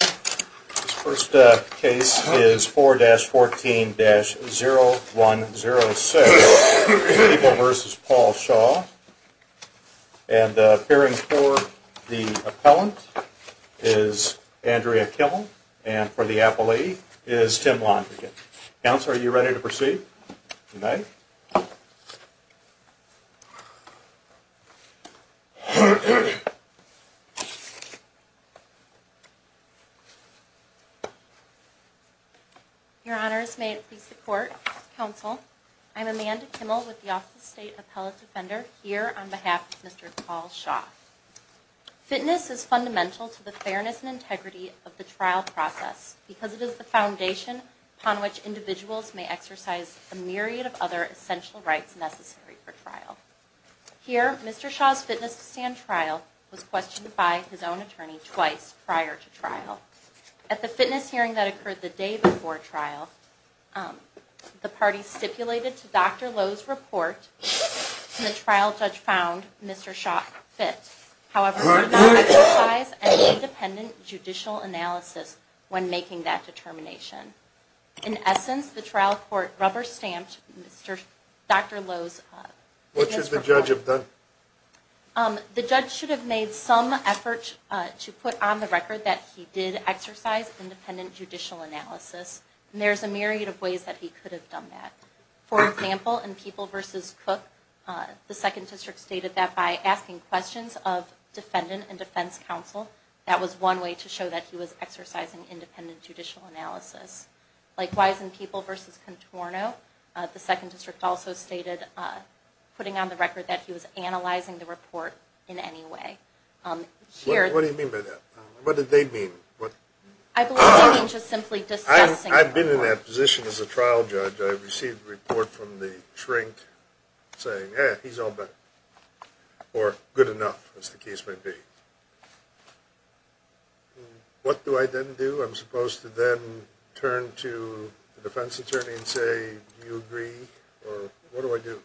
This first case is 4-14-0106, People v. Paul Shaw, and appearing for the appellant is Andrea Kimmel. Your Honors, may it please the Court, Counsel, I'm Amanda Kimmel with the Office of State Appellate Defender here on behalf of Mr. Paul Shaw. Fitness is fundamental to the fairness and integrity of the trial process because it is the foundation upon which individuals may exercise a myriad of other essential rights necessary for trial. Here, Mr. Shaw's fitness stand trial was questioned by his own attorney twice prior to trial. At the fitness hearing that occurred the day before trial, the parties stipulated to Dr. Lowe's report, and the trial judge found Mr. Shaw fit. However, there was no exercise and independent judicial analysis when making that determination. In essence, the trial court rubber-stamped Dr. Lowe's The judge should have made some effort to put on the record that he did exercise independent judicial analysis, and there's a myriad of ways that he could have done that. For example, in People v. Cook, the 2nd District stated that by asking questions of defendant and defense counsel, that was one way to show that he was exercising independent judicial analysis. Likewise, in People v. Contorno, the 2nd District also stated, putting on the report in any way. What do you mean by that? What did they mean? I believe they mean just simply discussing. I've been in that position as a trial judge. I've received a report from the shrink saying, eh, he's all better, or good enough, as the case may be. What do I then do? I'm supposed to then turn to the defense attorney and say, do you agree, or do you disagree? What do I do?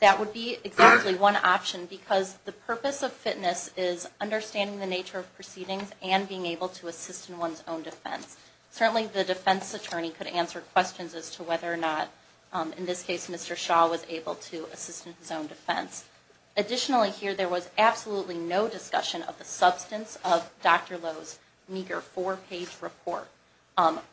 That would be exactly one option, because the purpose of fitness is understanding the nature of proceedings and being able to assist in one's own defense. Certainly, the defense attorney could answer questions as to whether or not, in this case, Mr. Shaw was able to assist in his own defense. Additionally here, there was absolutely no discussion of the substance of Dr. Lowe's meager four-page report,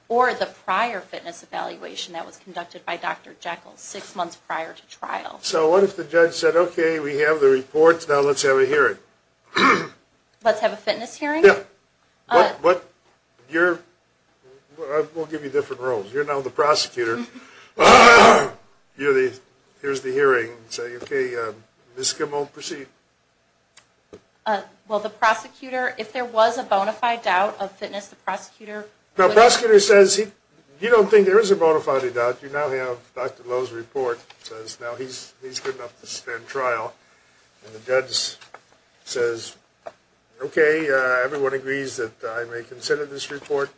or the prior fitness evaluation that was conducted by Dr. Jekyll six months prior to trial. So what if the judge said, okay, we have the reports, now let's have a hearing? Let's have a fitness hearing? Yeah. What, you're, we'll give you different roles. You're now the prosecutor. You're the, here's the hearing. Say, okay, Ms. Skimmel, proceed. Well, the prosecutor, if there was a bona fide doubt of fitness, the prosecutor... The prosecutor says, you don't think there is a bona fide doubt. You now have Dr. Lowe's report, says now he's good enough to stand trial. And the judge says, okay, everyone agrees that I may consider this report.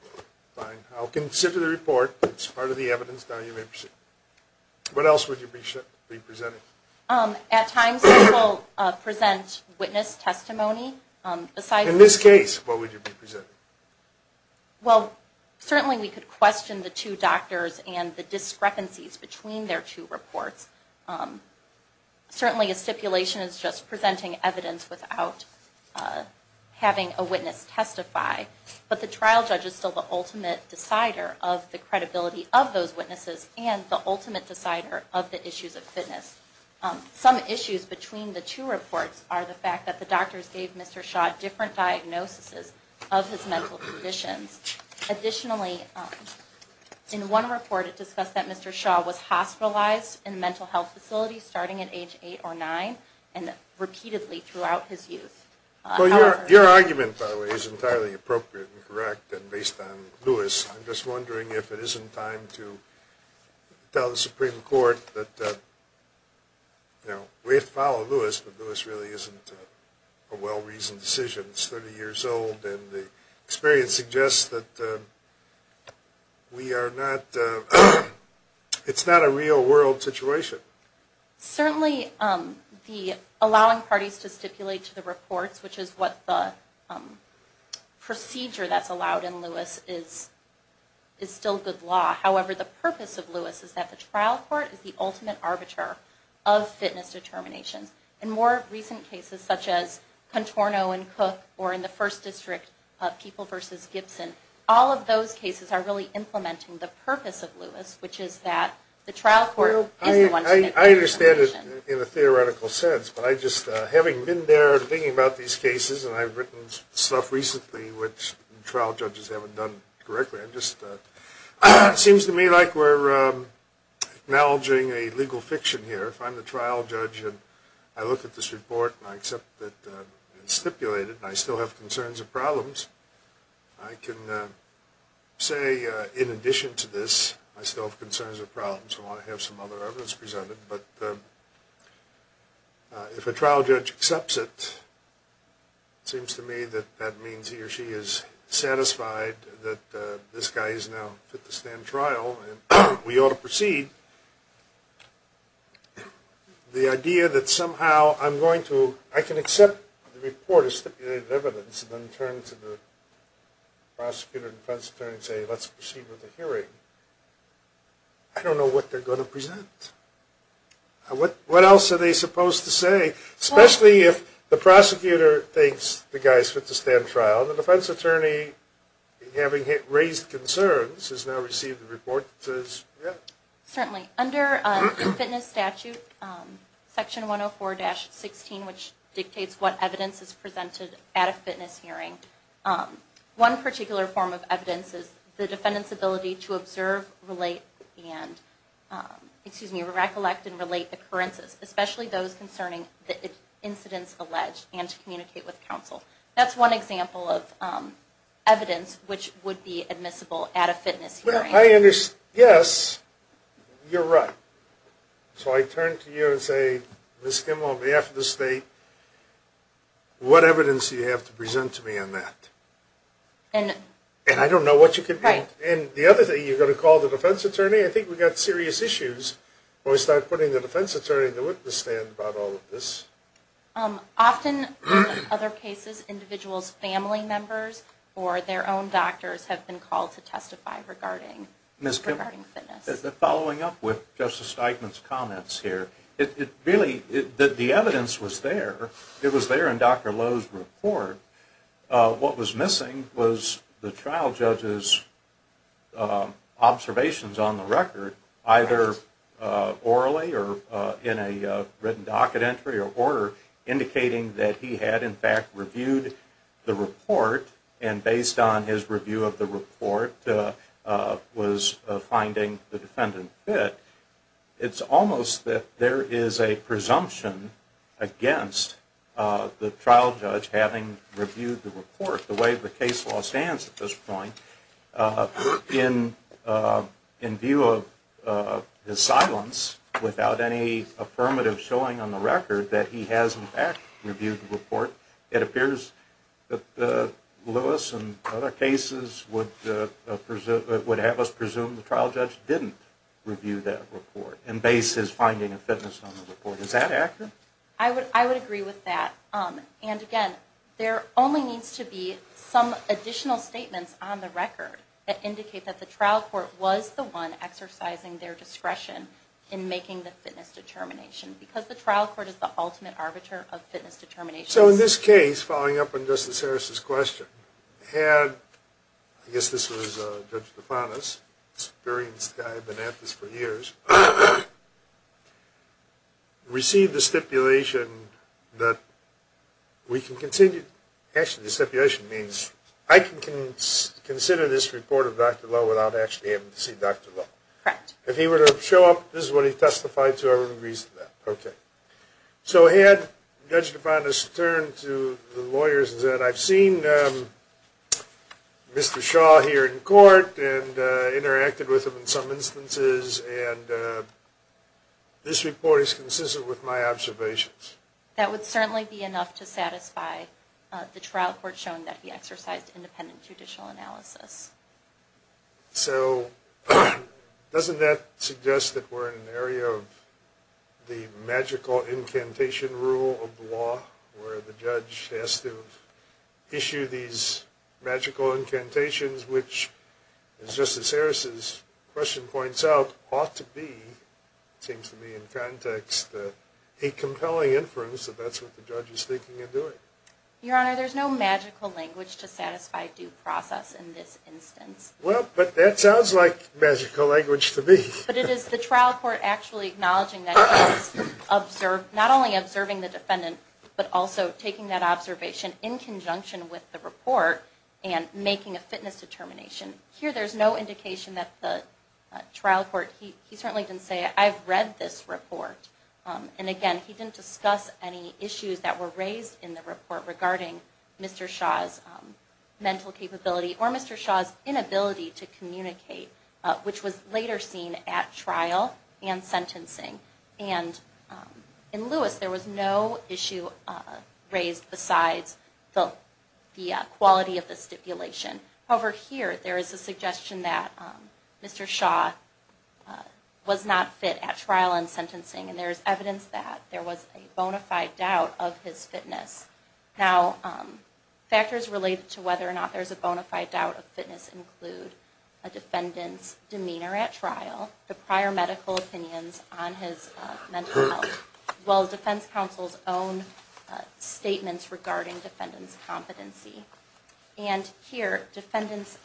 Fine. I'll consider the report. It's part of the evidence. Now you may proceed. What else would you be presenting? At times people present witness testimony besides... In this case, what would you be presenting? Well, certainly we could question the two doctors and the discrepancies between their two reports. Certainly a stipulation is just presenting evidence without having a witness testify. But the trial judge is still the ultimate decider of the issues of fitness. Some issues between the two reports are the fact that the doctors gave Mr. Shaw different diagnoses of his mental conditions. Additionally, in one report it discussed that Mr. Shaw was hospitalized in a mental health facility starting at age eight or nine, and repeatedly throughout his youth. Well, your argument, by the way, is entirely appropriate and correct and based on Lewis. I'm just wondering if it isn't time to tell the Supreme Court that we have to follow Lewis, but Lewis really isn't a well-reasoned decision. He's 30 years old, and the experience suggests that it's not a real-world situation. Certainly allowing parties to stipulate to the reports, which is what the procedure that's required, is still good law. However, the purpose of Lewis is that the trial court is the ultimate arbiter of fitness determinations. In more recent cases, such as Contorno and Cook, or in the First District of People v. Gibson, all of those cases are really implementing the purpose of Lewis, which is that the trial court is the one to make the determination. I understand it in a theoretical sense, but I just, having been there and thinking about these cases, and I've written stuff recently which trial judges haven't done correctly, I'm just, it seems to me like we're acknowledging a legal fiction here. If I'm the trial judge and I look at this report and I accept that it's stipulated, and I still have concerns or problems, I can say, in addition to this, I still have concerns or problems and want to have some other evidence presented. But if a trial judge accepts it, it seems to me that that means he or she is satisfied that this guy is now fit to stand trial and we ought to proceed. The idea that somehow I'm going to, I can accept the report as stipulated evidence and then turn to the prosecutor and defense attorney and say, let's proceed with the hearing, I don't know what they're going to present. What else are they supposed to say? Especially if the prosecutor thinks the guy is fit to stand trial and the defense attorney, having raised concerns, has now received the report that says, yep. Certainly. Under the fitness statute, section 104-16, which dictates what evidence is presented at a fitness hearing, one particular form of evidence is the defendant's ability to communicate with counsel. That's one example of evidence which would be admissible at a fitness hearing. I understand. Yes, you're right. So I turn to you and say, Ms. Kim, on behalf of the state, what evidence do you have to present to me on that? And I don't know what you can do. Right. And the other thing, you're going to call the defense attorney? I think we've got serious issues when we start putting the defense attorney in the witness stand about all of this. Often, in other cases, individuals' family members or their own doctors have been called to testify regarding fitness. Ms. Kim, following up with Justice Eichmann's comments here, it really, the evidence was there. It was there in Dr. Lowe's report. What was missing was the trial judge's observations on the record, either orally or in a written docket entry or order, indicating that he had, in fact, reviewed the report and, based on his review of the report, was finding the defendant fit. It's almost that there is a presumption against the trial judge having reviewed the report, the way the case law stands at this point, in view of his silence, without any affirmative showing on the record that he has, in fact, reviewed the report. It appears that Lewis and other cases would have us presume the trial judge didn't review that report and base his finding of fitness on the report. Is that accurate? I would agree with that. And, again, there only needs to be some additional statements on the record that indicate that the trial court was the one exercising their discretion in making the fitness determination, because the trial court is the ultimate arbiter of fitness determination. So, in this case, following up on Justice Harris' question, had, I guess this was Judge received the stipulation that we can continue, actually, the stipulation means I can consider this report of Dr. Lowe without actually having to see Dr. Lowe. Correct. If he were to show up, this is what he testified to, I would agree to that. Okay. So, had Judge DeFantis turn to the lawyers and said, I've seen Mr. Shaw here in court and interacted with him in some instances, and this report is consistent with my observations. That would certainly be enough to satisfy the trial court showing that he exercised independent judicial analysis. So, doesn't that suggest that we're in an area of the magical incantation rule of the judge has to issue these magical incantations, which, as Justice Harris' question points out, ought to be, seems to me in context, a compelling inference that that's what the judge is thinking of doing. Your Honor, there's no magical language to satisfy due process in this instance. Well, but that sounds like magical language to me. But it is the trial court actually acknowledging that he has observed, not only observing the trial court, but taking that observation in conjunction with the report and making a fitness determination. Here, there's no indication that the trial court, he certainly didn't say, I've read this report. And again, he didn't discuss any issues that were raised in the report regarding Mr. Shaw's mental capability or Mr. Shaw's inability to communicate, which was later seen at trial and sentencing. And in Lewis, there was no issue raised besides the quality of the stipulation. However, here, there is a suggestion that Mr. Shaw was not fit at trial and sentencing. And there's evidence that there was a bona fide doubt of his fitness. Now, factors related to whether or not there's a bona fide doubt of fitness include a defendant's mental health, as well as defense counsel's own statements regarding defendant's competency. And here, defendant's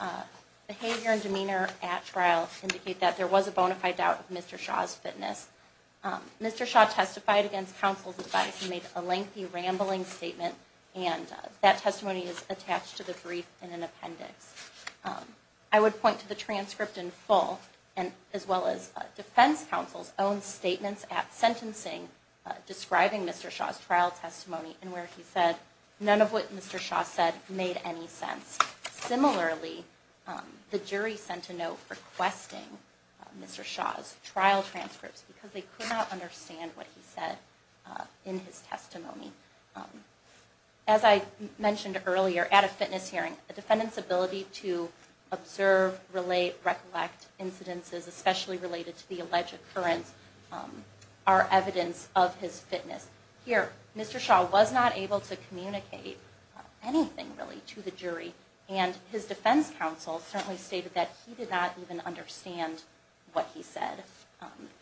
behavior and demeanor at trial indicate that there was a bona fide doubt of Mr. Shaw's fitness. Mr. Shaw testified against counsel's advice. He made a lengthy, rambling statement. And that testimony is attached to the brief in an appendix. I would point to the transcript in full, as well as defense counsel's own statements at sentencing describing Mr. Shaw's trial testimony, and where he said none of what Mr. Shaw said made any sense. Similarly, the jury sent a note requesting Mr. Shaw's trial transcripts because they As I mentioned earlier, at a fitness hearing, a defendant's ability to observe, relate, recollect incidences, especially related to the alleged occurrence, are evidence of his fitness. Here, Mr. Shaw was not able to communicate anything, really, to the jury. And his defense counsel certainly stated that he did not even understand what he said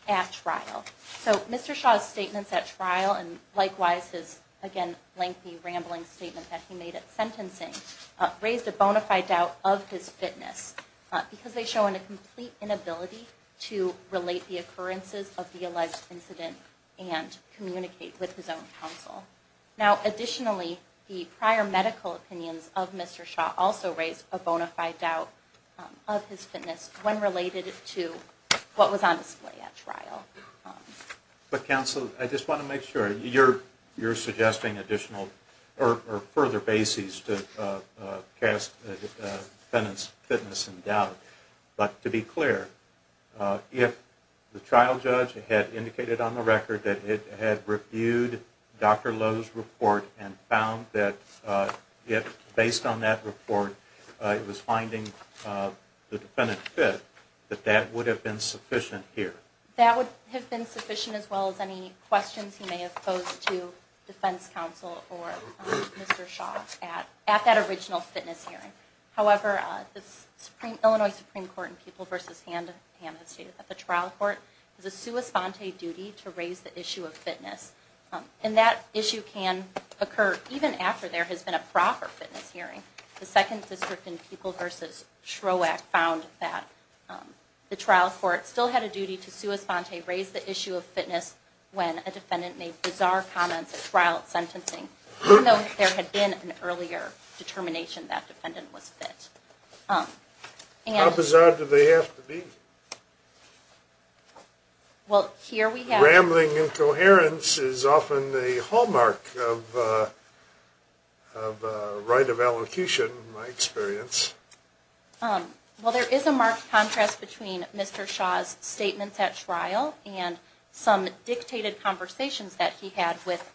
at trial. So Mr. Shaw's statements at trial, and likewise his, again, lengthy, rambling statement that he made at sentencing, raised a bona fide doubt of his fitness because they show a complete inability to relate the occurrences of the alleged incident and communicate with his own counsel. Now, additionally, the prior medical opinions of Mr. Shaw also raised a bona fide doubt of his display at trial. But counsel, I just want to make sure, you're suggesting additional or further bases to cast the defendant's fitness in doubt. But to be clear, if the trial judge had indicated on the record that it had reviewed Dr. Lowe's report and found that, based on that report, it was finding the defendant fit, that that would have been sufficient here? That would have been sufficient, as well as any questions he may have posed to defense counsel or Mr. Shaw at that original fitness hearing. However, the Illinois Supreme Court in Pupil v. Ham has stated that the trial court has a sua sponte duty to raise the issue of fitness. And that issue can occur even after there has been a proper fitness hearing. The second district in Pupil v. Shrowack found that the trial court still had a duty to sua sponte, raise the issue of fitness, when a defendant made bizarre comments at trial at sentencing, even though there had been an earlier determination that defendant was fit. How bizarre do they have to be? Rambling incoherence is often the hallmark of right of elocution, in my experience. Well, there is a marked contrast between Mr. Shaw's statements at trial and some dictated conversations that he had with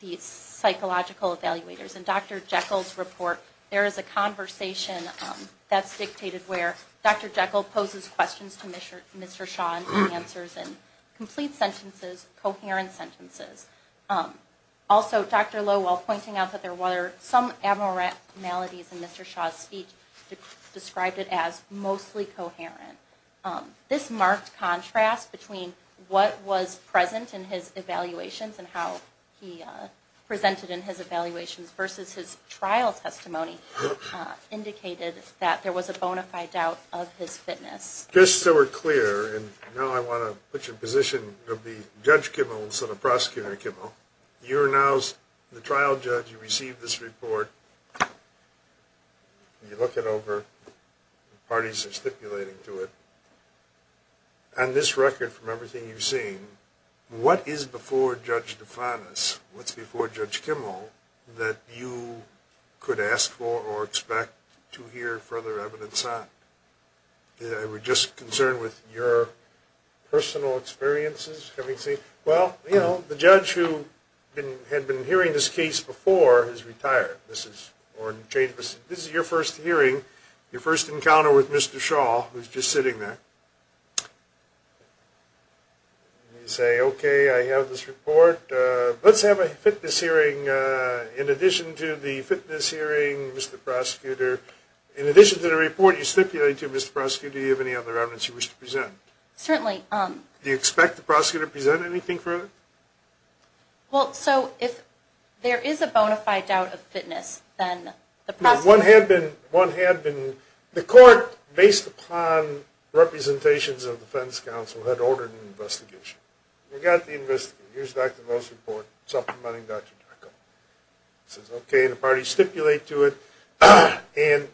the psychological evaluators. In Dr. Jekyll's report, there is a conversation that's dictated where Dr. Jekyll poses questions to Mr. Shaw and answers in complete sentences, coherent sentences. Also, Dr. Lowe, while pointing out that there were some abnormalities in Mr. Shaw's speech, described it as mostly coherent. This marked contrast between what was present in his evaluations and how he presented in his evaluations versus his trial testimony indicated that there was a bona fide doubt of his fitness. Just so we're clear, and now I want to put you in position of being Judge Kimmel instead of Prosecutor Kimmel, you're now the trial judge. You received this report. You look it over. Parties are stipulating to it. On this record, from everything you've seen, what is before Judge DeFantis? What's before Judge Kimmel that you could ask for or expect to hear further evidence on? We're just concerned with your personal experiences. Well, you know, the judge who had been hearing this case before has retired. This is your first hearing, your first encounter with Mr. Shaw, who's just sitting there. You say, okay, I have this report. Let's have a fitness hearing in addition to the fitness hearing, Mr. Prosecutor. In addition to the report you stipulate to, Mr. Prosecutor, do you have any other evidence you wish to present? Certainly. Do you expect the prosecutor to present anything further? Well, so if there is a bona fide doubt of fitness, then the prosecutor One had been, the court, based upon representations of the Fenton's Council, had ordered an investigation. We got the investigation. Here's Dr. Moe's report supplementing Dr. Jocko. Okay, the parties stipulate to it. And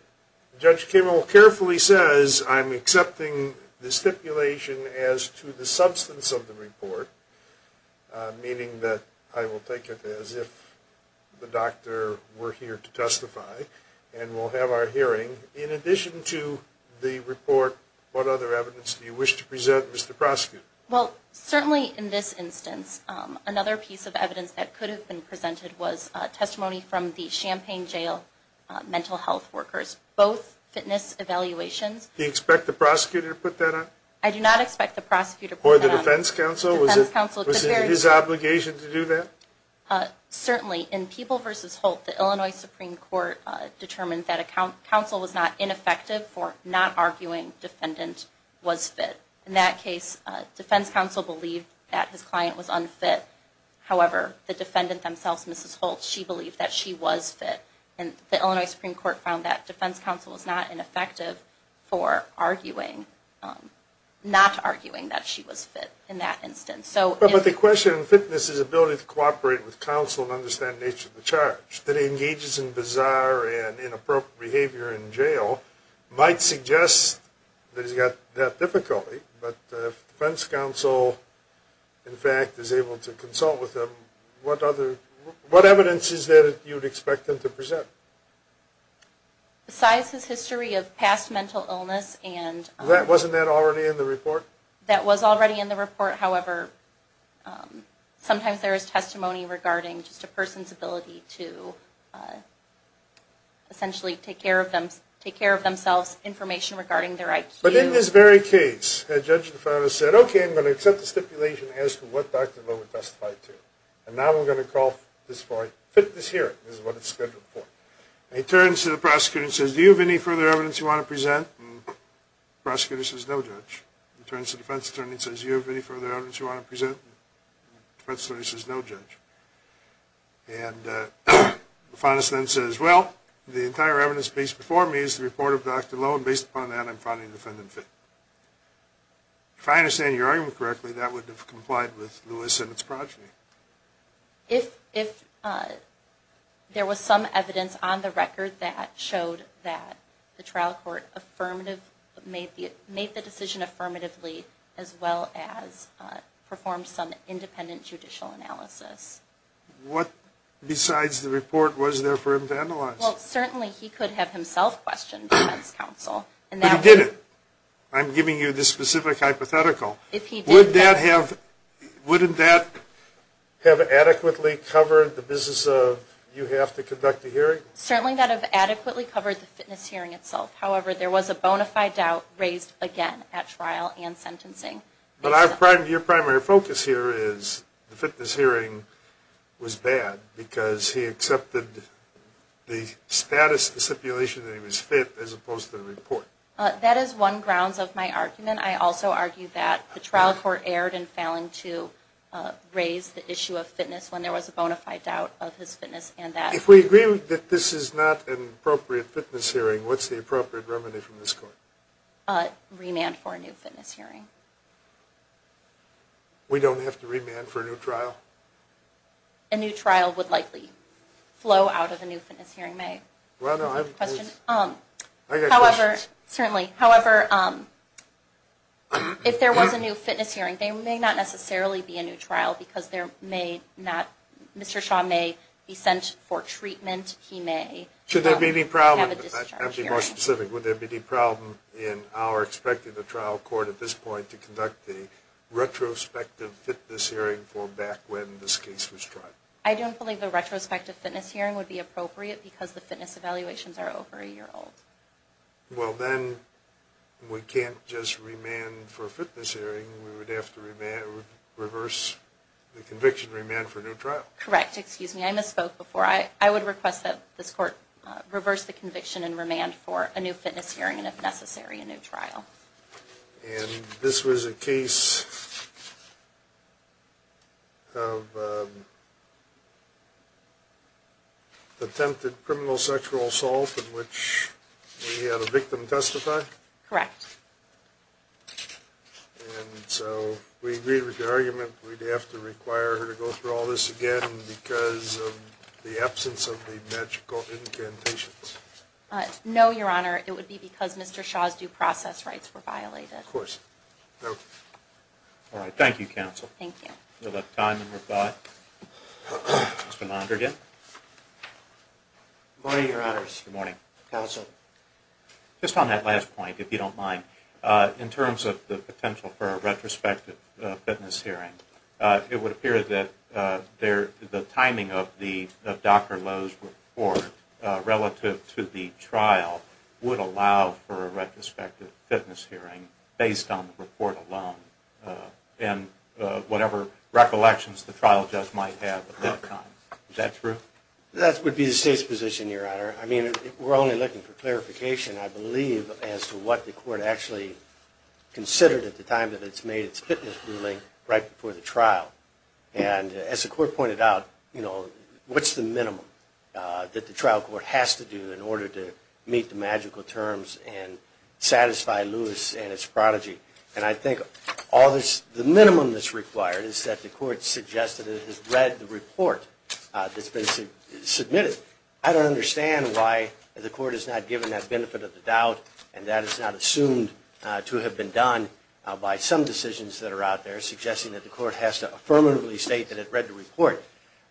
Judge Kimmel carefully says, I'm accepting the stipulation as to the substance of the report. Meaning that I will take it as if the doctor were here to testify. And we'll have our hearing. In addition to the report, what other evidence do you wish to present, Mr. Prosecutor? Well, certainly in this instance, another piece of evidence that could have been presented was testimony from the Champaign Jail mental health workers. Both fitness evaluations. Do you expect the prosecutor to put that on? I do not expect the prosecutor to put that on. Or the defense counsel? Was it his obligation to do that? Certainly. In People v. Holt, the Illinois Supreme Court determined that a counsel was not ineffective for not arguing defendant was fit. In that case, defense counsel believed that his client was unfit. However, the defendant themselves, Mrs. Holt, she believed that she was fit. And the Illinois Supreme Court found that defense counsel was not ineffective for arguing, not arguing that she was fit in that instance. But the question in fitness is ability to cooperate with counsel and understand the nature of the charge. A judge that engages in bizarre and inappropriate behavior in jail might suggest that he's got that difficulty. But if defense counsel, in fact, is able to consult with him, what evidence is there that you would expect him to present? Besides his history of past mental illness and... Wasn't that already in the report? That was already in the report. However, sometimes there is testimony regarding just a person's ability to essentially take care of themselves, information regarding their IQ. But in this very case, a judge said, okay, I'm going to accept the stipulation as to what Dr. Lowe testified to. And now I'm going to call this hearing. This is what it's scheduled for. And he turns to the prosecutor and says, do you have any further evidence you want to present? The prosecutor says, no, Judge. He turns to the defense attorney and says, do you have any further evidence you want to present? The defense attorney says, no, Judge. And the defense attorney says, well, the entire evidence piece before me is the report of Dr. Lowe. And based upon that, I'm finding the defendant fit. If I understand your argument correctly, that would have complied with Lewis and his progeny. If there was some evidence on the record that showed that the trial court made the decision affirmatively as well as performed some independent judicial analysis. What besides the report was there for him to analyze? Well, certainly he could have himself questioned defense counsel. But he didn't. I'm giving you the specific hypothetical. Wouldn't that have adequately covered the business of you have to conduct the hearing? Certainly that would have adequately covered the fitness hearing itself. However, there was a bona fide doubt raised again at trial and sentencing. But your primary focus here is the fitness hearing was bad because he accepted the status of the stipulation that he was fit as opposed to the report. That is one grounds of my argument. I also argue that the trial court erred in failing to raise the issue of fitness when there was a bona fide doubt of his fitness. If we agree that this is not an appropriate fitness hearing, what's the appropriate remedy from this court? Remand for a new fitness hearing. We don't have to remand for a new trial? A new trial would likely flow out of a new fitness hearing, may I? I have a question. Certainly. However, if there was a new fitness hearing, there may not necessarily be a new trial because Mr. Shaw may be sent for treatment. He may have a discharge hearing. Should there be any problem, to be more specific, would there be any problem in our expecting the trial court at this point to conduct a retrospective fitness hearing for back when this case was tried? I don't believe a retrospective fitness hearing would be appropriate because the fitness evaluations are over a year old. Well, then we can't just remand for a fitness hearing. We would have to reverse the conviction and remand for a new trial. Correct. Excuse me. I misspoke before. I would request that this court reverse the conviction and remand for a new fitness hearing and, if necessary, a new trial. And this was a case of attempted criminal sexual assault in which we had a victim testify? Correct. And so we agreed with the argument we'd have to require her to go through all this again because of the absence of the magical incantations. No, Your Honor. It would be because Mr. Shaw's due process rights were violated. Of course. No. All right. Thank you, counsel. Thank you. We'll have time and rebut. Mr. Mondragon. Good morning, Your Honors. Good morning. Counsel. Just on that last point, if you don't mind, in terms of the potential for a retrospective fitness hearing, it would appear that the timing of Dr. Lowe's report relative to the trial would allow for a retrospective fitness hearing based on the report alone and whatever recollections the trial judge might have at that time. Is that true? That would be the State's position, Your Honor. I mean, we're only looking for clarification, I believe, as to what the court actually considered at the time that it's made its fitness ruling right before the trial. And as the court pointed out, you know, what's the minimum that the trial court has to do in order to meet the magical terms and satisfy Lewis and his prodigy? And I think the minimum that's required is that the court suggests that it has read the report that's been submitted. I don't understand why the court has not given that benefit of the doubt and that is not assumed to have been done by some decisions that are out there suggesting that the court has to affirmatively state that it read the report.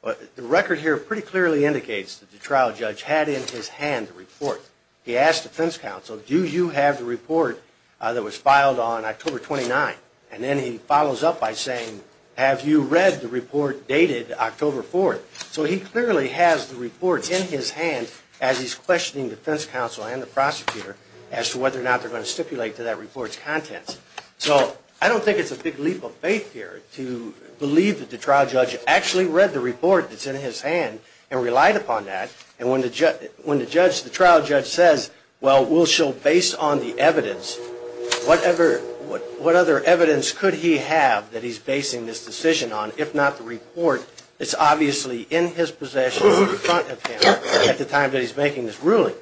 The record here pretty clearly indicates that the trial judge had in his hand the report. He asked defense counsel, do you have the report that was filed on October 29th? And then he follows up by saying, have you read the report dated October 4th? So he clearly has the report in his hand as he's questioning defense counsel and the prosecutor as to whether or not they're going to stipulate to that report's contents. So I don't think it's a big leap of faith here to believe that the trial judge actually read the report that's in his hand and relied upon that. And when the trial judge says, well, we'll show based on the evidence, what other evidence could he have that he's basing this decision on if not the report, it's obviously in his possession in front of him at the time that he's making this ruling.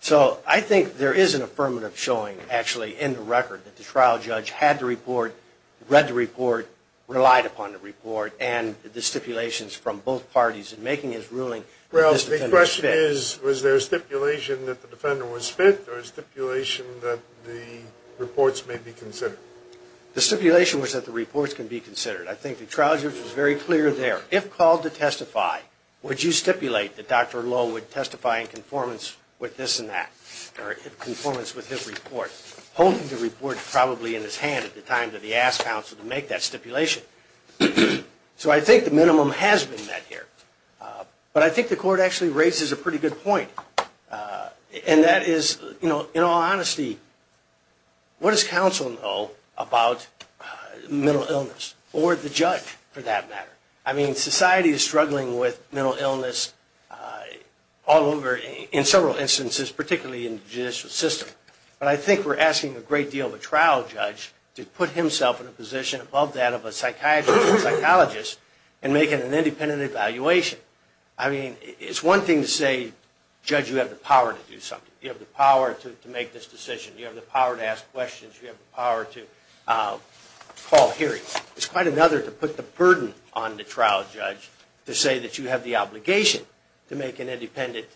So I think there is an affirmative showing actually in the record that the trial judge had the report, read the report, relied upon the report, and the stipulations from both parties in making his ruling. Well, the question is, was there a stipulation that the defendant was fit or a stipulation that the reports may be considered? The stipulation was that the reports can be considered. I think the trial judge was very clear there. If called to testify, would you stipulate that Dr. Lowe would testify in conformance with this and that or in conformance with his report? Holding the report probably in his hand at the time that he asked counsel to make that stipulation. So I think the minimum has been met here. But I think the court actually raises a pretty good point, and that is, in all honesty, what does counsel know about mental illness or the judge, for that matter? I mean, society is struggling with mental illness all over, in several instances, particularly in the judicial system. But I think we're asking a great deal of a trial judge to put himself in a position above that of a psychiatrist or psychologist in making an independent evaluation. I mean, it's one thing to say, judge, you have the power to do something. You have the power to make this decision. You have the power to ask questions. You have the power to call hearings. It's quite another to put the burden on the trial judge to say that you have the obligation to make an independent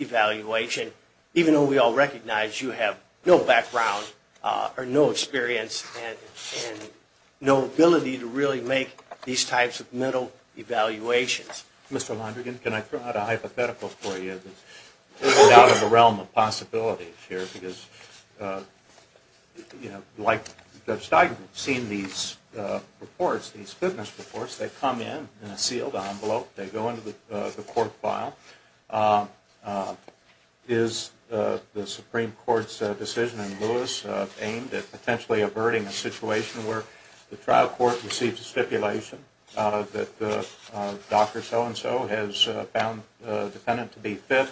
evaluation, even though we all recognize you have no background or no experience and no ability to really make these types of mental evaluations. Mr. Londrigan, can I throw out a hypothetical for you that's out of the realm of possibility here? Because, you know, like Judge Steigman, seeing these reports, these witness reports, they come in in a sealed envelope. They go into the court file. Is the Supreme Court's decision in Lewis aimed at potentially averting a situation where the trial court receives a stipulation that Dr. So-and-so has found the defendant to be fit,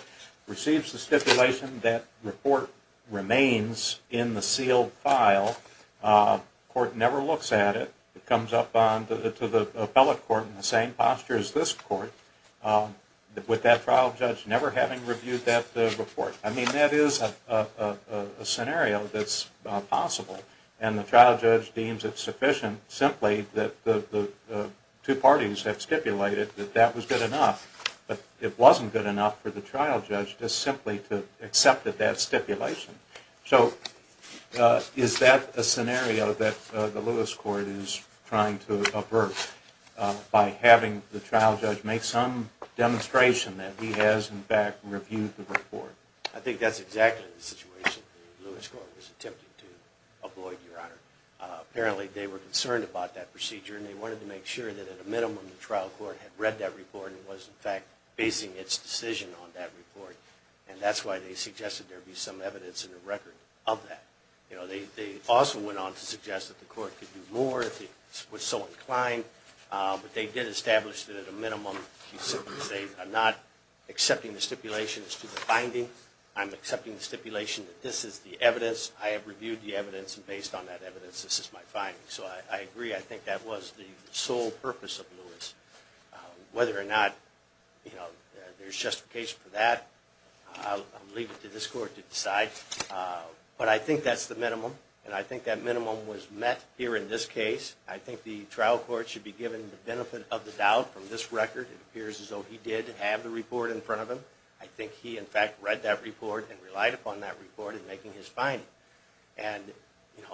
receives the stipulation that report remains in the sealed file, court never looks at it. It comes up to the appellate court in the same posture as this court, with that trial judge never having reviewed that report. I mean, that is a scenario that's possible. And the trial judge deems it sufficient simply that the two parties have stipulated that that was good enough. But it wasn't good enough for the trial judge just simply to accept that that stipulation. So is that a scenario that the Lewis court is trying to avert, by having the trial judge make some demonstration that he has, in fact, reviewed the report? I think that's exactly the situation the Lewis court was attempting to avoid, Your Honor. Apparently, they were concerned about that procedure, and they wanted to make sure that at a minimum the trial court had read that report and was, in fact, basing its decision on that report. And that's why they suggested there be some evidence in the record of that. They also went on to suggest that the court could do more if it was so inclined. But they did establish that at a minimum, to simply say, I'm not accepting the stipulations to the finding. I'm accepting the stipulation that this is the evidence. I have reviewed the evidence, and based on that evidence, this is my finding. So I agree. I think that was the sole purpose of Lewis. Whether or not there's justification for that, I'll leave it to this court to decide. But I think that's the minimum, and I think that minimum was met here in this case. I think the trial court should be given the benefit of the doubt from this record. It appears as though he did have the report in front of him. I think he, in fact, read that report and relied upon that report in making his finding. And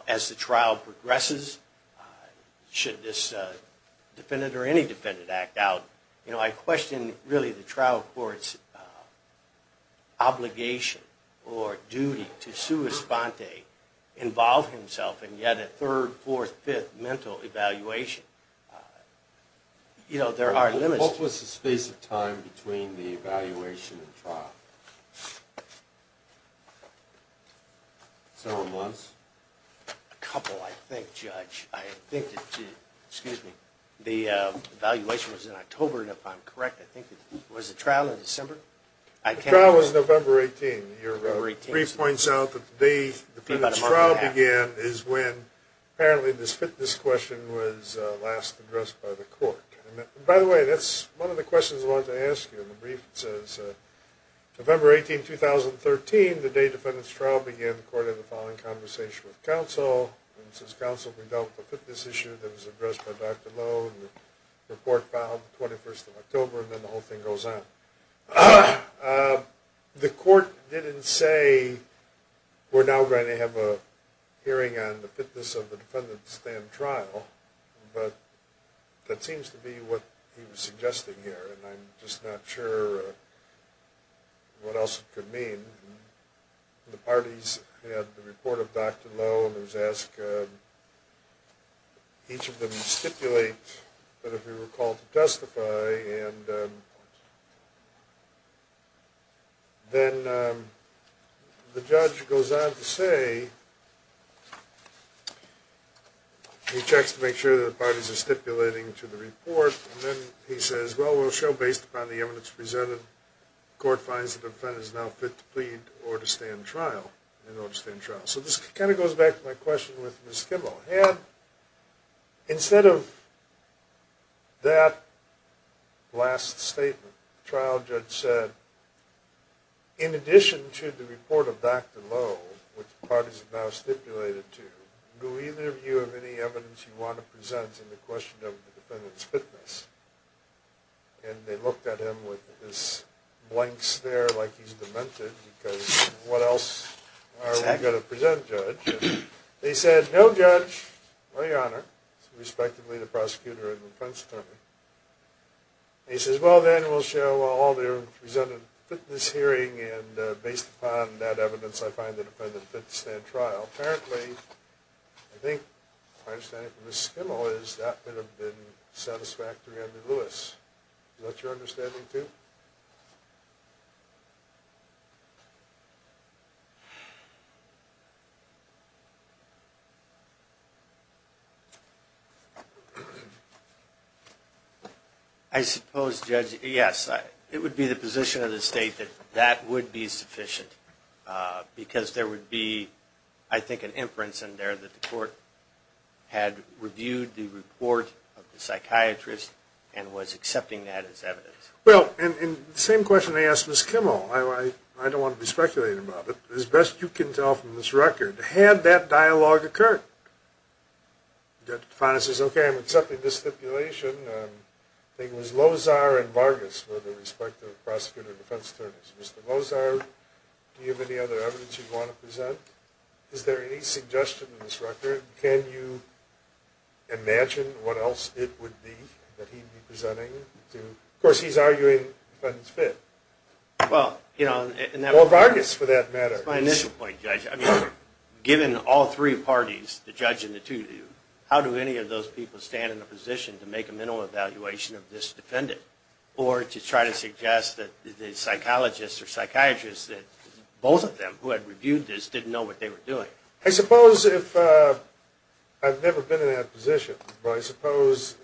as the trial progresses, should this defendant or any defendant act out, I question really the trial court's obligation or duty to sua sponte, involve himself in yet a third, fourth, fifth mental evaluation. What was the space of time between the evaluation and trial? Several months? A couple, I think, Judge. The evaluation was in October, and if I'm correct, was the trial in December? The trial was November 18. Your brief points out that the day the defendant's trial began is when, apparently, this fitness question was last addressed by the court. By the way, that's one of the questions I wanted to ask you in the brief. It says, November 18, 2013, the day the defendant's trial began, the court had the following conversation with counsel. It says, counsel, we dealt with a fitness issue that was addressed by Dr. Lowe, and the report filed the 21st of October, and then the whole thing goes on. The court didn't say, we're now going to have a hearing on the fitness of the defendant's stand trial, but that seems to be what he was suggesting here, and I'm just not sure what else it could mean. The parties had the report of Dr. Lowe, and it was asked each of them to stipulate that if we were called to testify, and then the judge goes on to say, he checks to make sure that the parties are stipulating to the report, and then he says, well, we'll show based upon the evidence presented, the court finds the defendant is now fit to plead in order to stand trial. So this kind of goes back to my question with Ms. Kimball. Instead of that last statement, the trial judge said, in addition to the report of Dr. Lowe, which the parties have now stipulated to, do either of you have any evidence you want to present in the question of the defendant's fitness? And they looked at him with his blank stare like he's demented, and they said, no, Judge, no, Your Honor, respectively the prosecutor and defense attorney. And he says, well, then we'll show all their presented fitness hearing, and based upon that evidence, I find the defendant fit to stand trial. Apparently, I think my understanding from Ms. Kimball is that would have been satisfactory under Lewis. Is that your understanding too? I suppose, Judge, yes. It would be the position of the state that that would be sufficient because there would be, I think, an inference in there that the court had reviewed the report of the psychiatrist and was accepting that as evidence. Well, and the same question I asked Ms. Kimball. I don't want to be speculating about it. As best you can tell from this record, had that dialogue occurred, the defendant says, okay, I'm accepting this stipulation. I think it was Lozar and Vargas were the respective prosecutor and defense attorneys. Mr. Lozar, do you have any other evidence you'd want to present? Is there any suggestion in this record? Can you imagine what else it would be that he'd be presenting? Of course, he's arguing the defendant's fit. Well, you know, and that was my initial point, Judge. I mean, given all three parties, the judge and the two of you, how do any of those people stand in a position to make a mental evaluation of this defendant or to try to suggest that the psychologists or psychiatrists, that both of them who had reviewed this didn't know what they were doing? I suppose if I've never been in that position, but I suppose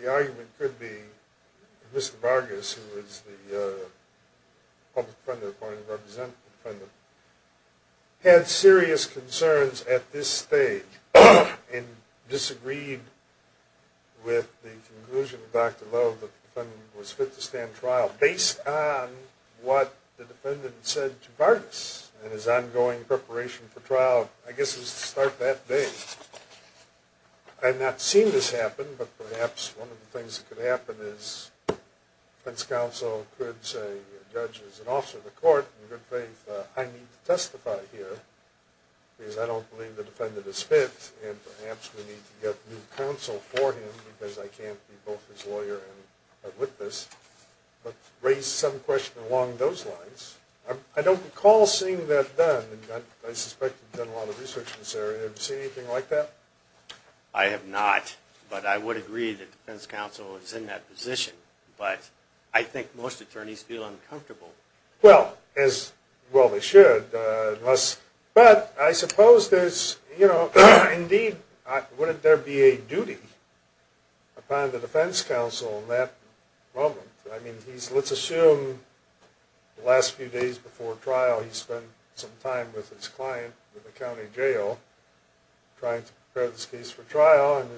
the argument could be that Mr. Vargas, who was the public defender appointed representative, had serious concerns at this stage and disagreed with the conclusion of Dr. Love that the defendant was fit to stand trial, based on what the defendant said to Vargas and his ongoing preparation for trial, I guess it was to start that day. I have not seen this happen, but perhaps one of the things that could happen is defense counsel could say, Judge, as an officer of the court, in good faith, I need to testify here because I don't believe the defendant is fit and perhaps we need to get new counsel for him because I can't be both his lawyer and witness, but raise some question along those lines. I don't recall seeing that done. I suspect you've done a lot of research in this area. Have you seen anything like that? I have not, but I would agree that defense counsel is in that position, but I think most attorneys feel uncomfortable. Well, they should. But I suppose there's, you know, indeed, wouldn't there be a duty upon the defense counsel in that moment? I mean, let's assume the last few days before trial he spent some time with his client in the county jail trying to prepare this case for trial, and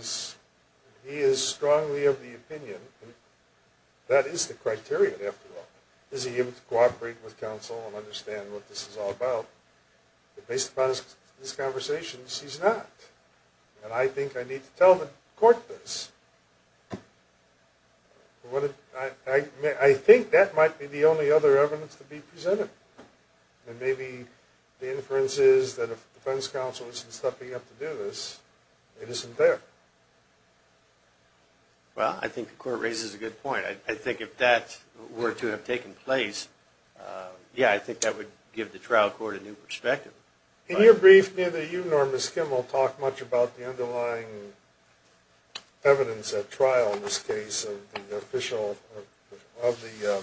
he is strongly of the opinion. That is the criteria, after all. Is he able to cooperate with counsel and understand what this is all about? But based upon this conversation, he's not. And I think I need to tell the court this. I think that might be the only other evidence to be presented. And maybe the inference is that if defense counsel isn't stepping up to do this, it isn't there. Well, I think the court raises a good point. I think if that were to have taken place, yeah, I think that would give the trial court a new perspective. In your brief, neither you nor Ms. Kimmel talk much about the underlying evidence at trial in this case of the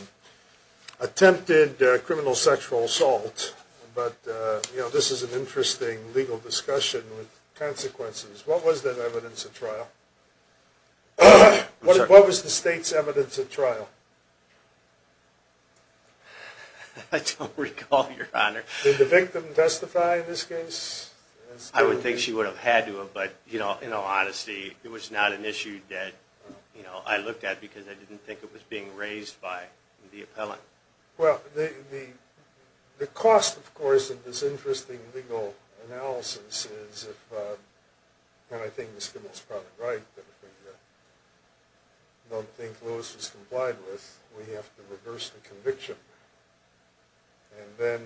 attempted criminal sexual assault. But this is an interesting legal discussion with consequences. What was that evidence at trial? What was the state's evidence at trial? I don't recall, Your Honor. Did the victim testify in this case? I would think she would have had to have, but in all honesty, it was not an issue that I looked at because I didn't think it was being raised by the appellant. Well, the cost, of course, of this interesting legal analysis is, and I think Ms. Kimmel is probably right, that if we don't think Lewis was complied with, we have to reverse the conviction and then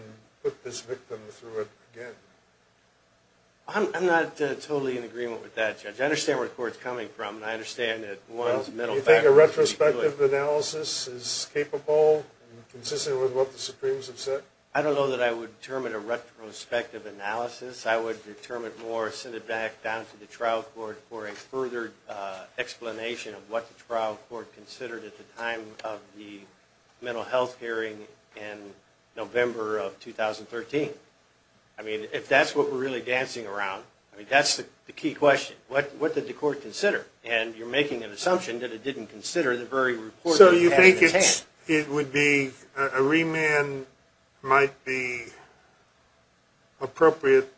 put this victim through it again. I'm not totally in agreement with that, Judge. I understand where the court is coming from, and I understand that one's mental factors. Do you think a retrospective analysis is capable, consistent with what the Supremes have said? I don't know that I would determine a retrospective analysis. I would determine more, send it back down to the trial court for a further explanation of what the trial court considered at the time of the mental health hearing in November of 2013. I mean, if that's what we're really dancing around, I mean, that's the key question. What did the court consider? And you're making an assumption that it didn't consider the very report that you had in its hands. So you think it would be, a remand might be appropriate,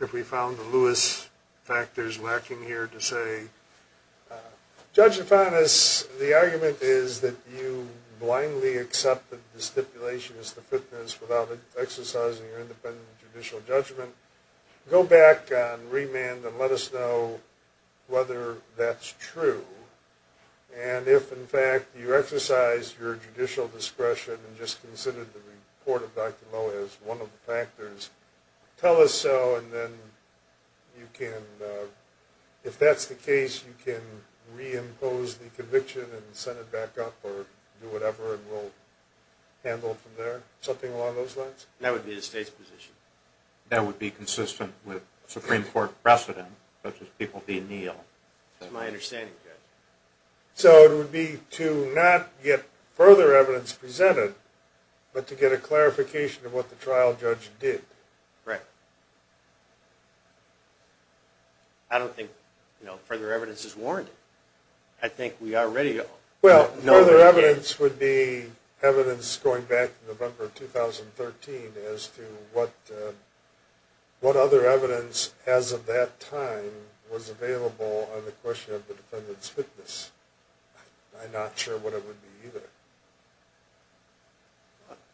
if we found the Lewis factors lacking here, to say, Judge Afanas, the argument is that you blindly accepted the stipulation as to fitness without exercising your independent judicial judgment. Go back on remand and let us know whether that's true. And if, in fact, you exercise your judicial discretion and just considered the report of Dr. Lowe as one of the factors, tell us so, and then you can, if that's the case, you can reimpose the conviction and send it back up or do whatever, and we'll handle it from there. Something along those lines? That would be the State's position. That would be consistent with Supreme Court precedent, such as people being ill. That's my understanding, Judge. So it would be to not get further evidence presented, but to get a clarification of what the trial judge did. Right. I don't think further evidence is warranted. I think we already know. Well, further evidence would be evidence going back to November of 2013 as to what other evidence, as of that time, was available on the question of the defendant's fitness. I'm not sure what it would be either.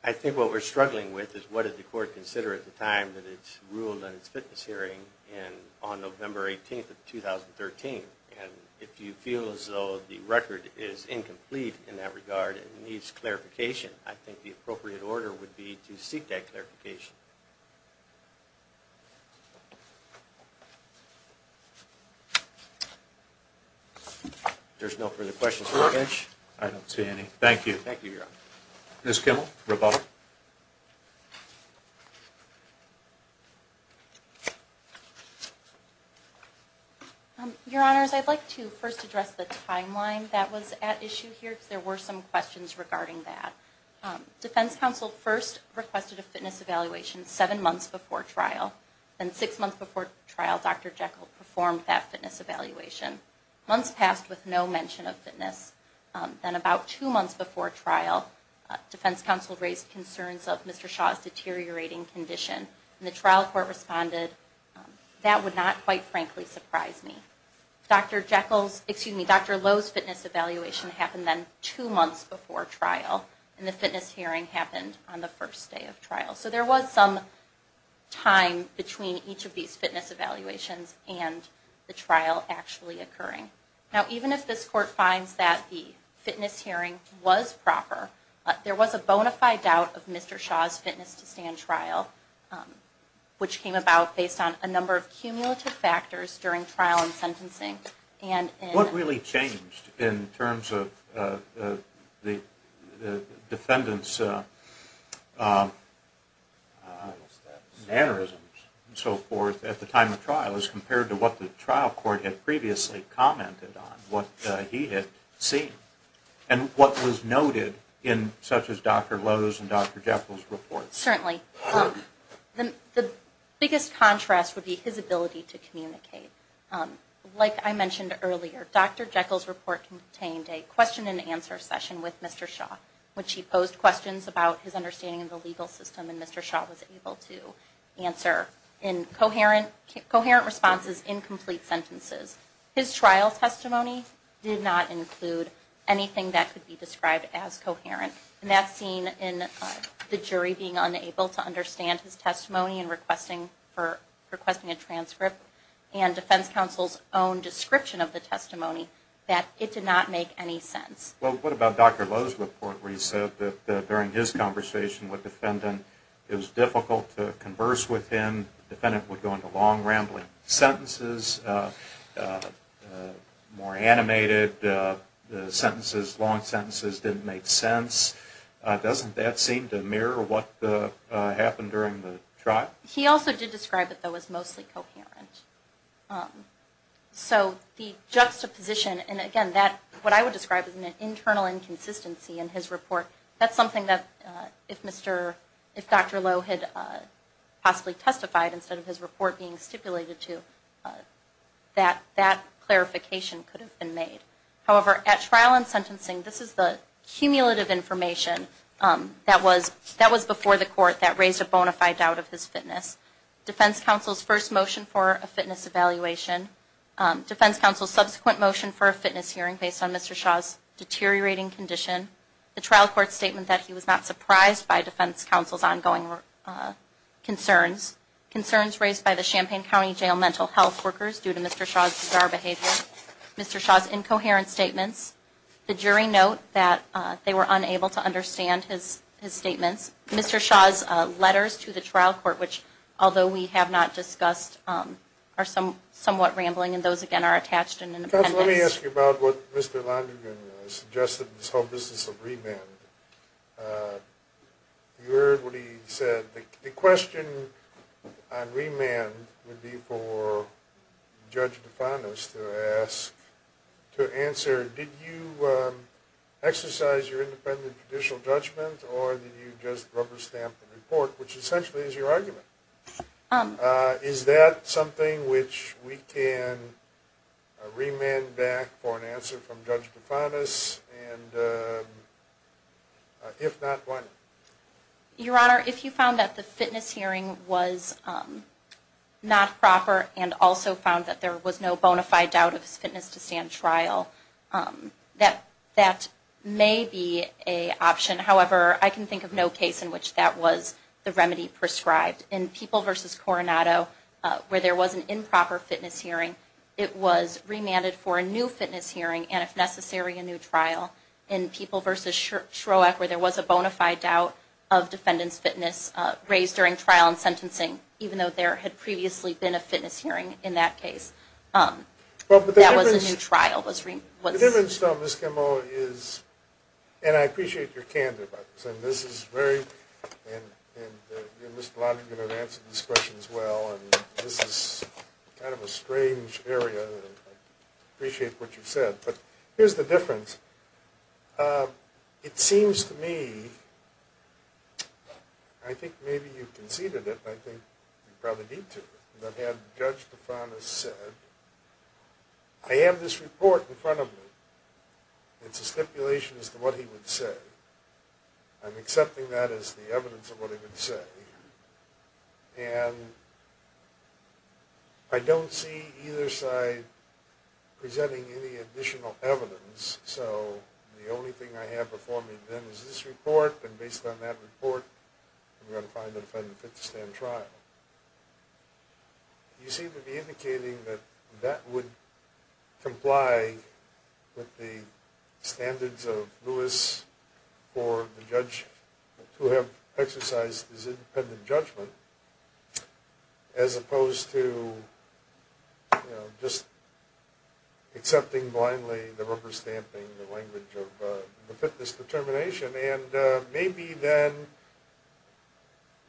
I think what we're struggling with is what did the court consider at the time that it ruled on its fitness hearing on November 18th of 2013. And if you feel as though the record is incomplete in that regard and needs clarification, I think the appropriate order would be to seek that clarification. If there's no further questions, we'll finish. I don't see any. Thank you. Thank you, Your Honor. Ms. Kimmel, rebuttal. Your Honors, I'd like to first address the timeline that was at issue here because there were some questions regarding that. Defense counsel first requested a fitness evaluation seven months before trial. Then six months before trial, Dr. Jekyll performed that fitness evaluation. Months passed with no mention of fitness. Then about two months before trial, defense counsel raised concerns of Mr. Shaw's deteriorating condition, and the trial court responded, that would not, quite frankly, surprise me. Dr. Jekyll's, excuse me, Dr. Lowe's fitness evaluation happened then two months before trial, and the fitness hearing happened on the first day of trial. So there was some time between each of these fitness evaluations and the trial actually occurring. Now even if this court finds that the fitness hearing was proper, there was a bona fide doubt of Mr. Shaw's fitness to stand trial, which came about based on a number of cumulative factors during trial and sentencing. What really changed in terms of the defendant's mannerisms and so forth at the time of trial as compared to what the trial court had previously commented on, what he had seen, and what was noted in such as Dr. Lowe's and Dr. Jekyll's reports? Certainly. The biggest contrast would be his ability to communicate. Like I mentioned earlier, Dr. Jekyll's report contained a question and answer session with Mr. Shaw, which he posed questions about his understanding of the legal system, and Mr. Shaw was able to answer in coherent responses in complete sentences. His trial testimony did not include anything that could be described as coherent, and that's seen in the jury being unable to understand his testimony and requesting a transcript and defense counsel's own description of the testimony that it did not make any sense. Well, what about Dr. Lowe's report where he said that during his conversation with the defendant it was difficult to converse with him, the defendant would go into long, rambling sentences, more animated sentences, long sentences, didn't make sense. Doesn't that seem to mirror what happened during the trial? He also did describe it, though, as mostly coherent. So the juxtaposition, and again, what I would describe as an internal inconsistency in his report, that's something that if Dr. Lowe had possibly testified instead of his report being stipulated to, that clarification could have been made. However, at trial and sentencing, this is the cumulative information that was before the court that raised a bona fide doubt of his fitness. Defense counsel's first motion for a fitness evaluation, defense counsel's subsequent motion for a fitness hearing based on Mr. Shaw's deteriorating condition, the trial court statement that he was not surprised by defense counsel's ongoing concerns, concerns raised by the Champaign County Jail mental health workers due to Mr. Shaw's bizarre behavior, Mr. Shaw's incoherent statements, the jury note that they were unable to understand his statements, Mr. Shaw's letters to the trial court, which although we have not discussed, are somewhat rambling, and those, again, are attached in the pending. Judge, let me ask you about what Mr. London suggested in his whole business of remand. You heard what he said. The question on remand would be for Judge DeFantis to ask, to answer, did you exercise your independent judicial judgment or did you just rubber stamp the report, which essentially is your argument? Is that something which we can remand back for an answer from Judge DeFantis? And if not, why not? Your Honor, if you found that the fitness hearing was not proper and also found that there was no bona fide doubt of his fitness to stand trial, that may be an option. However, I can think of no case in which that was the remedy prescribed. In People v. Coronado, where there was an improper fitness hearing, it was remanded for a new fitness hearing and, if necessary, a new trial. In People v. Shroeck, where there was a bona fide doubt of defendant's fitness raised during trial and sentencing, even though there had previously been a fitness hearing in that case, that was a new trial. The difference, though, Ms. Kimball, is, and I appreciate your candor about this, and this is very, and Mr. Long is going to answer this question as well, and this is kind of a strange area. I appreciate what you said. But here's the difference. It seems to me, I think maybe you conceded it, and I think you probably did too, that had Judge DeFantis said, I have this report in front of me. It's a stipulation as to what he would say. I'm accepting that as the evidence of what he would say. And I don't see either side presenting any additional evidence. So the only thing I have before me then is this report, and based on that report, I'm going to find a defendant fit to stand trial. You seem to be indicating that that would comply with the standards of Lewis or the judge who have exercised his independent judgment as opposed to, you know, just accepting blindly the rubber stamping, the language of the fitness determination. And maybe then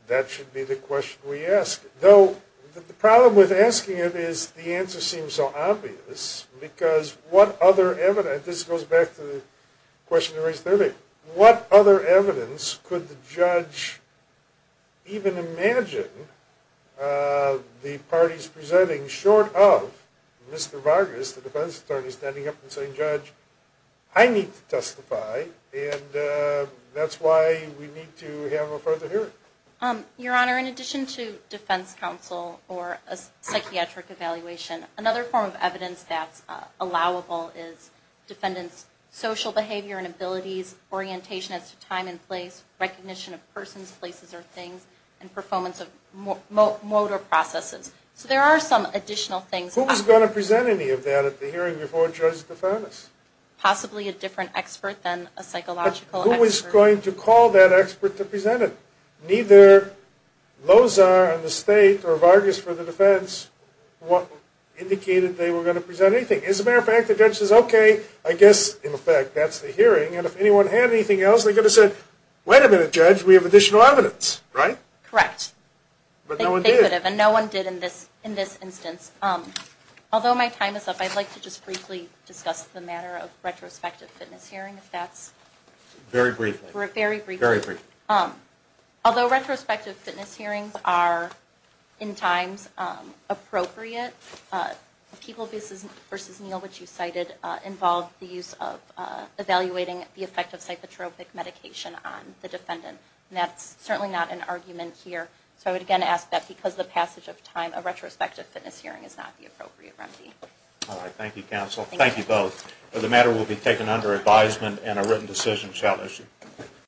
that should be the question we ask. Though the problem with asking it is the answer seems so obvious because what other evidence, this goes back to the question you raised earlier, what other evidence could the judge even imagine the parties presenting short of Mr. Vargas, the defense attorney, standing up and saying, Judge, I need to testify, and that's why we need to have a further hearing. Your Honor, in addition to defense counsel or a psychiatric evaluation, another form of evidence that's allowable is defendants' social behavior and abilities, orientation as to time and place, recognition of persons, places, or things, and performance of motor processes. So there are some additional things. Who was going to present any of that at the hearing before Judge DeFantis? Possibly a different expert than a psychological expert. But who was going to call that expert to present it? Neither Lozar in the state or Vargas for the defense indicated they were going to present anything. As a matter of fact, the judge says, Okay, I guess, in effect, that's the hearing. And if anyone had anything else, they could have said, Wait a minute, Judge, we have additional evidence, right? Correct. But no one did. And no one did in this instance. Although my time is up, I'd like to just briefly discuss the matter of retrospective fitness hearing, if that's... Very briefly. Very briefly. Very briefly. Although retrospective fitness hearings are in times appropriate, People v. Neal, which you cited, involved the use of evaluating the effect of psychotropic medication on the defendant. And that's certainly not an argument here. So I would again ask that because of the passage of time, a retrospective fitness hearing is not the appropriate remedy. All right. Thank you, counsel. Thank you both. The matter will be taken under advisement and a written decision shall issue.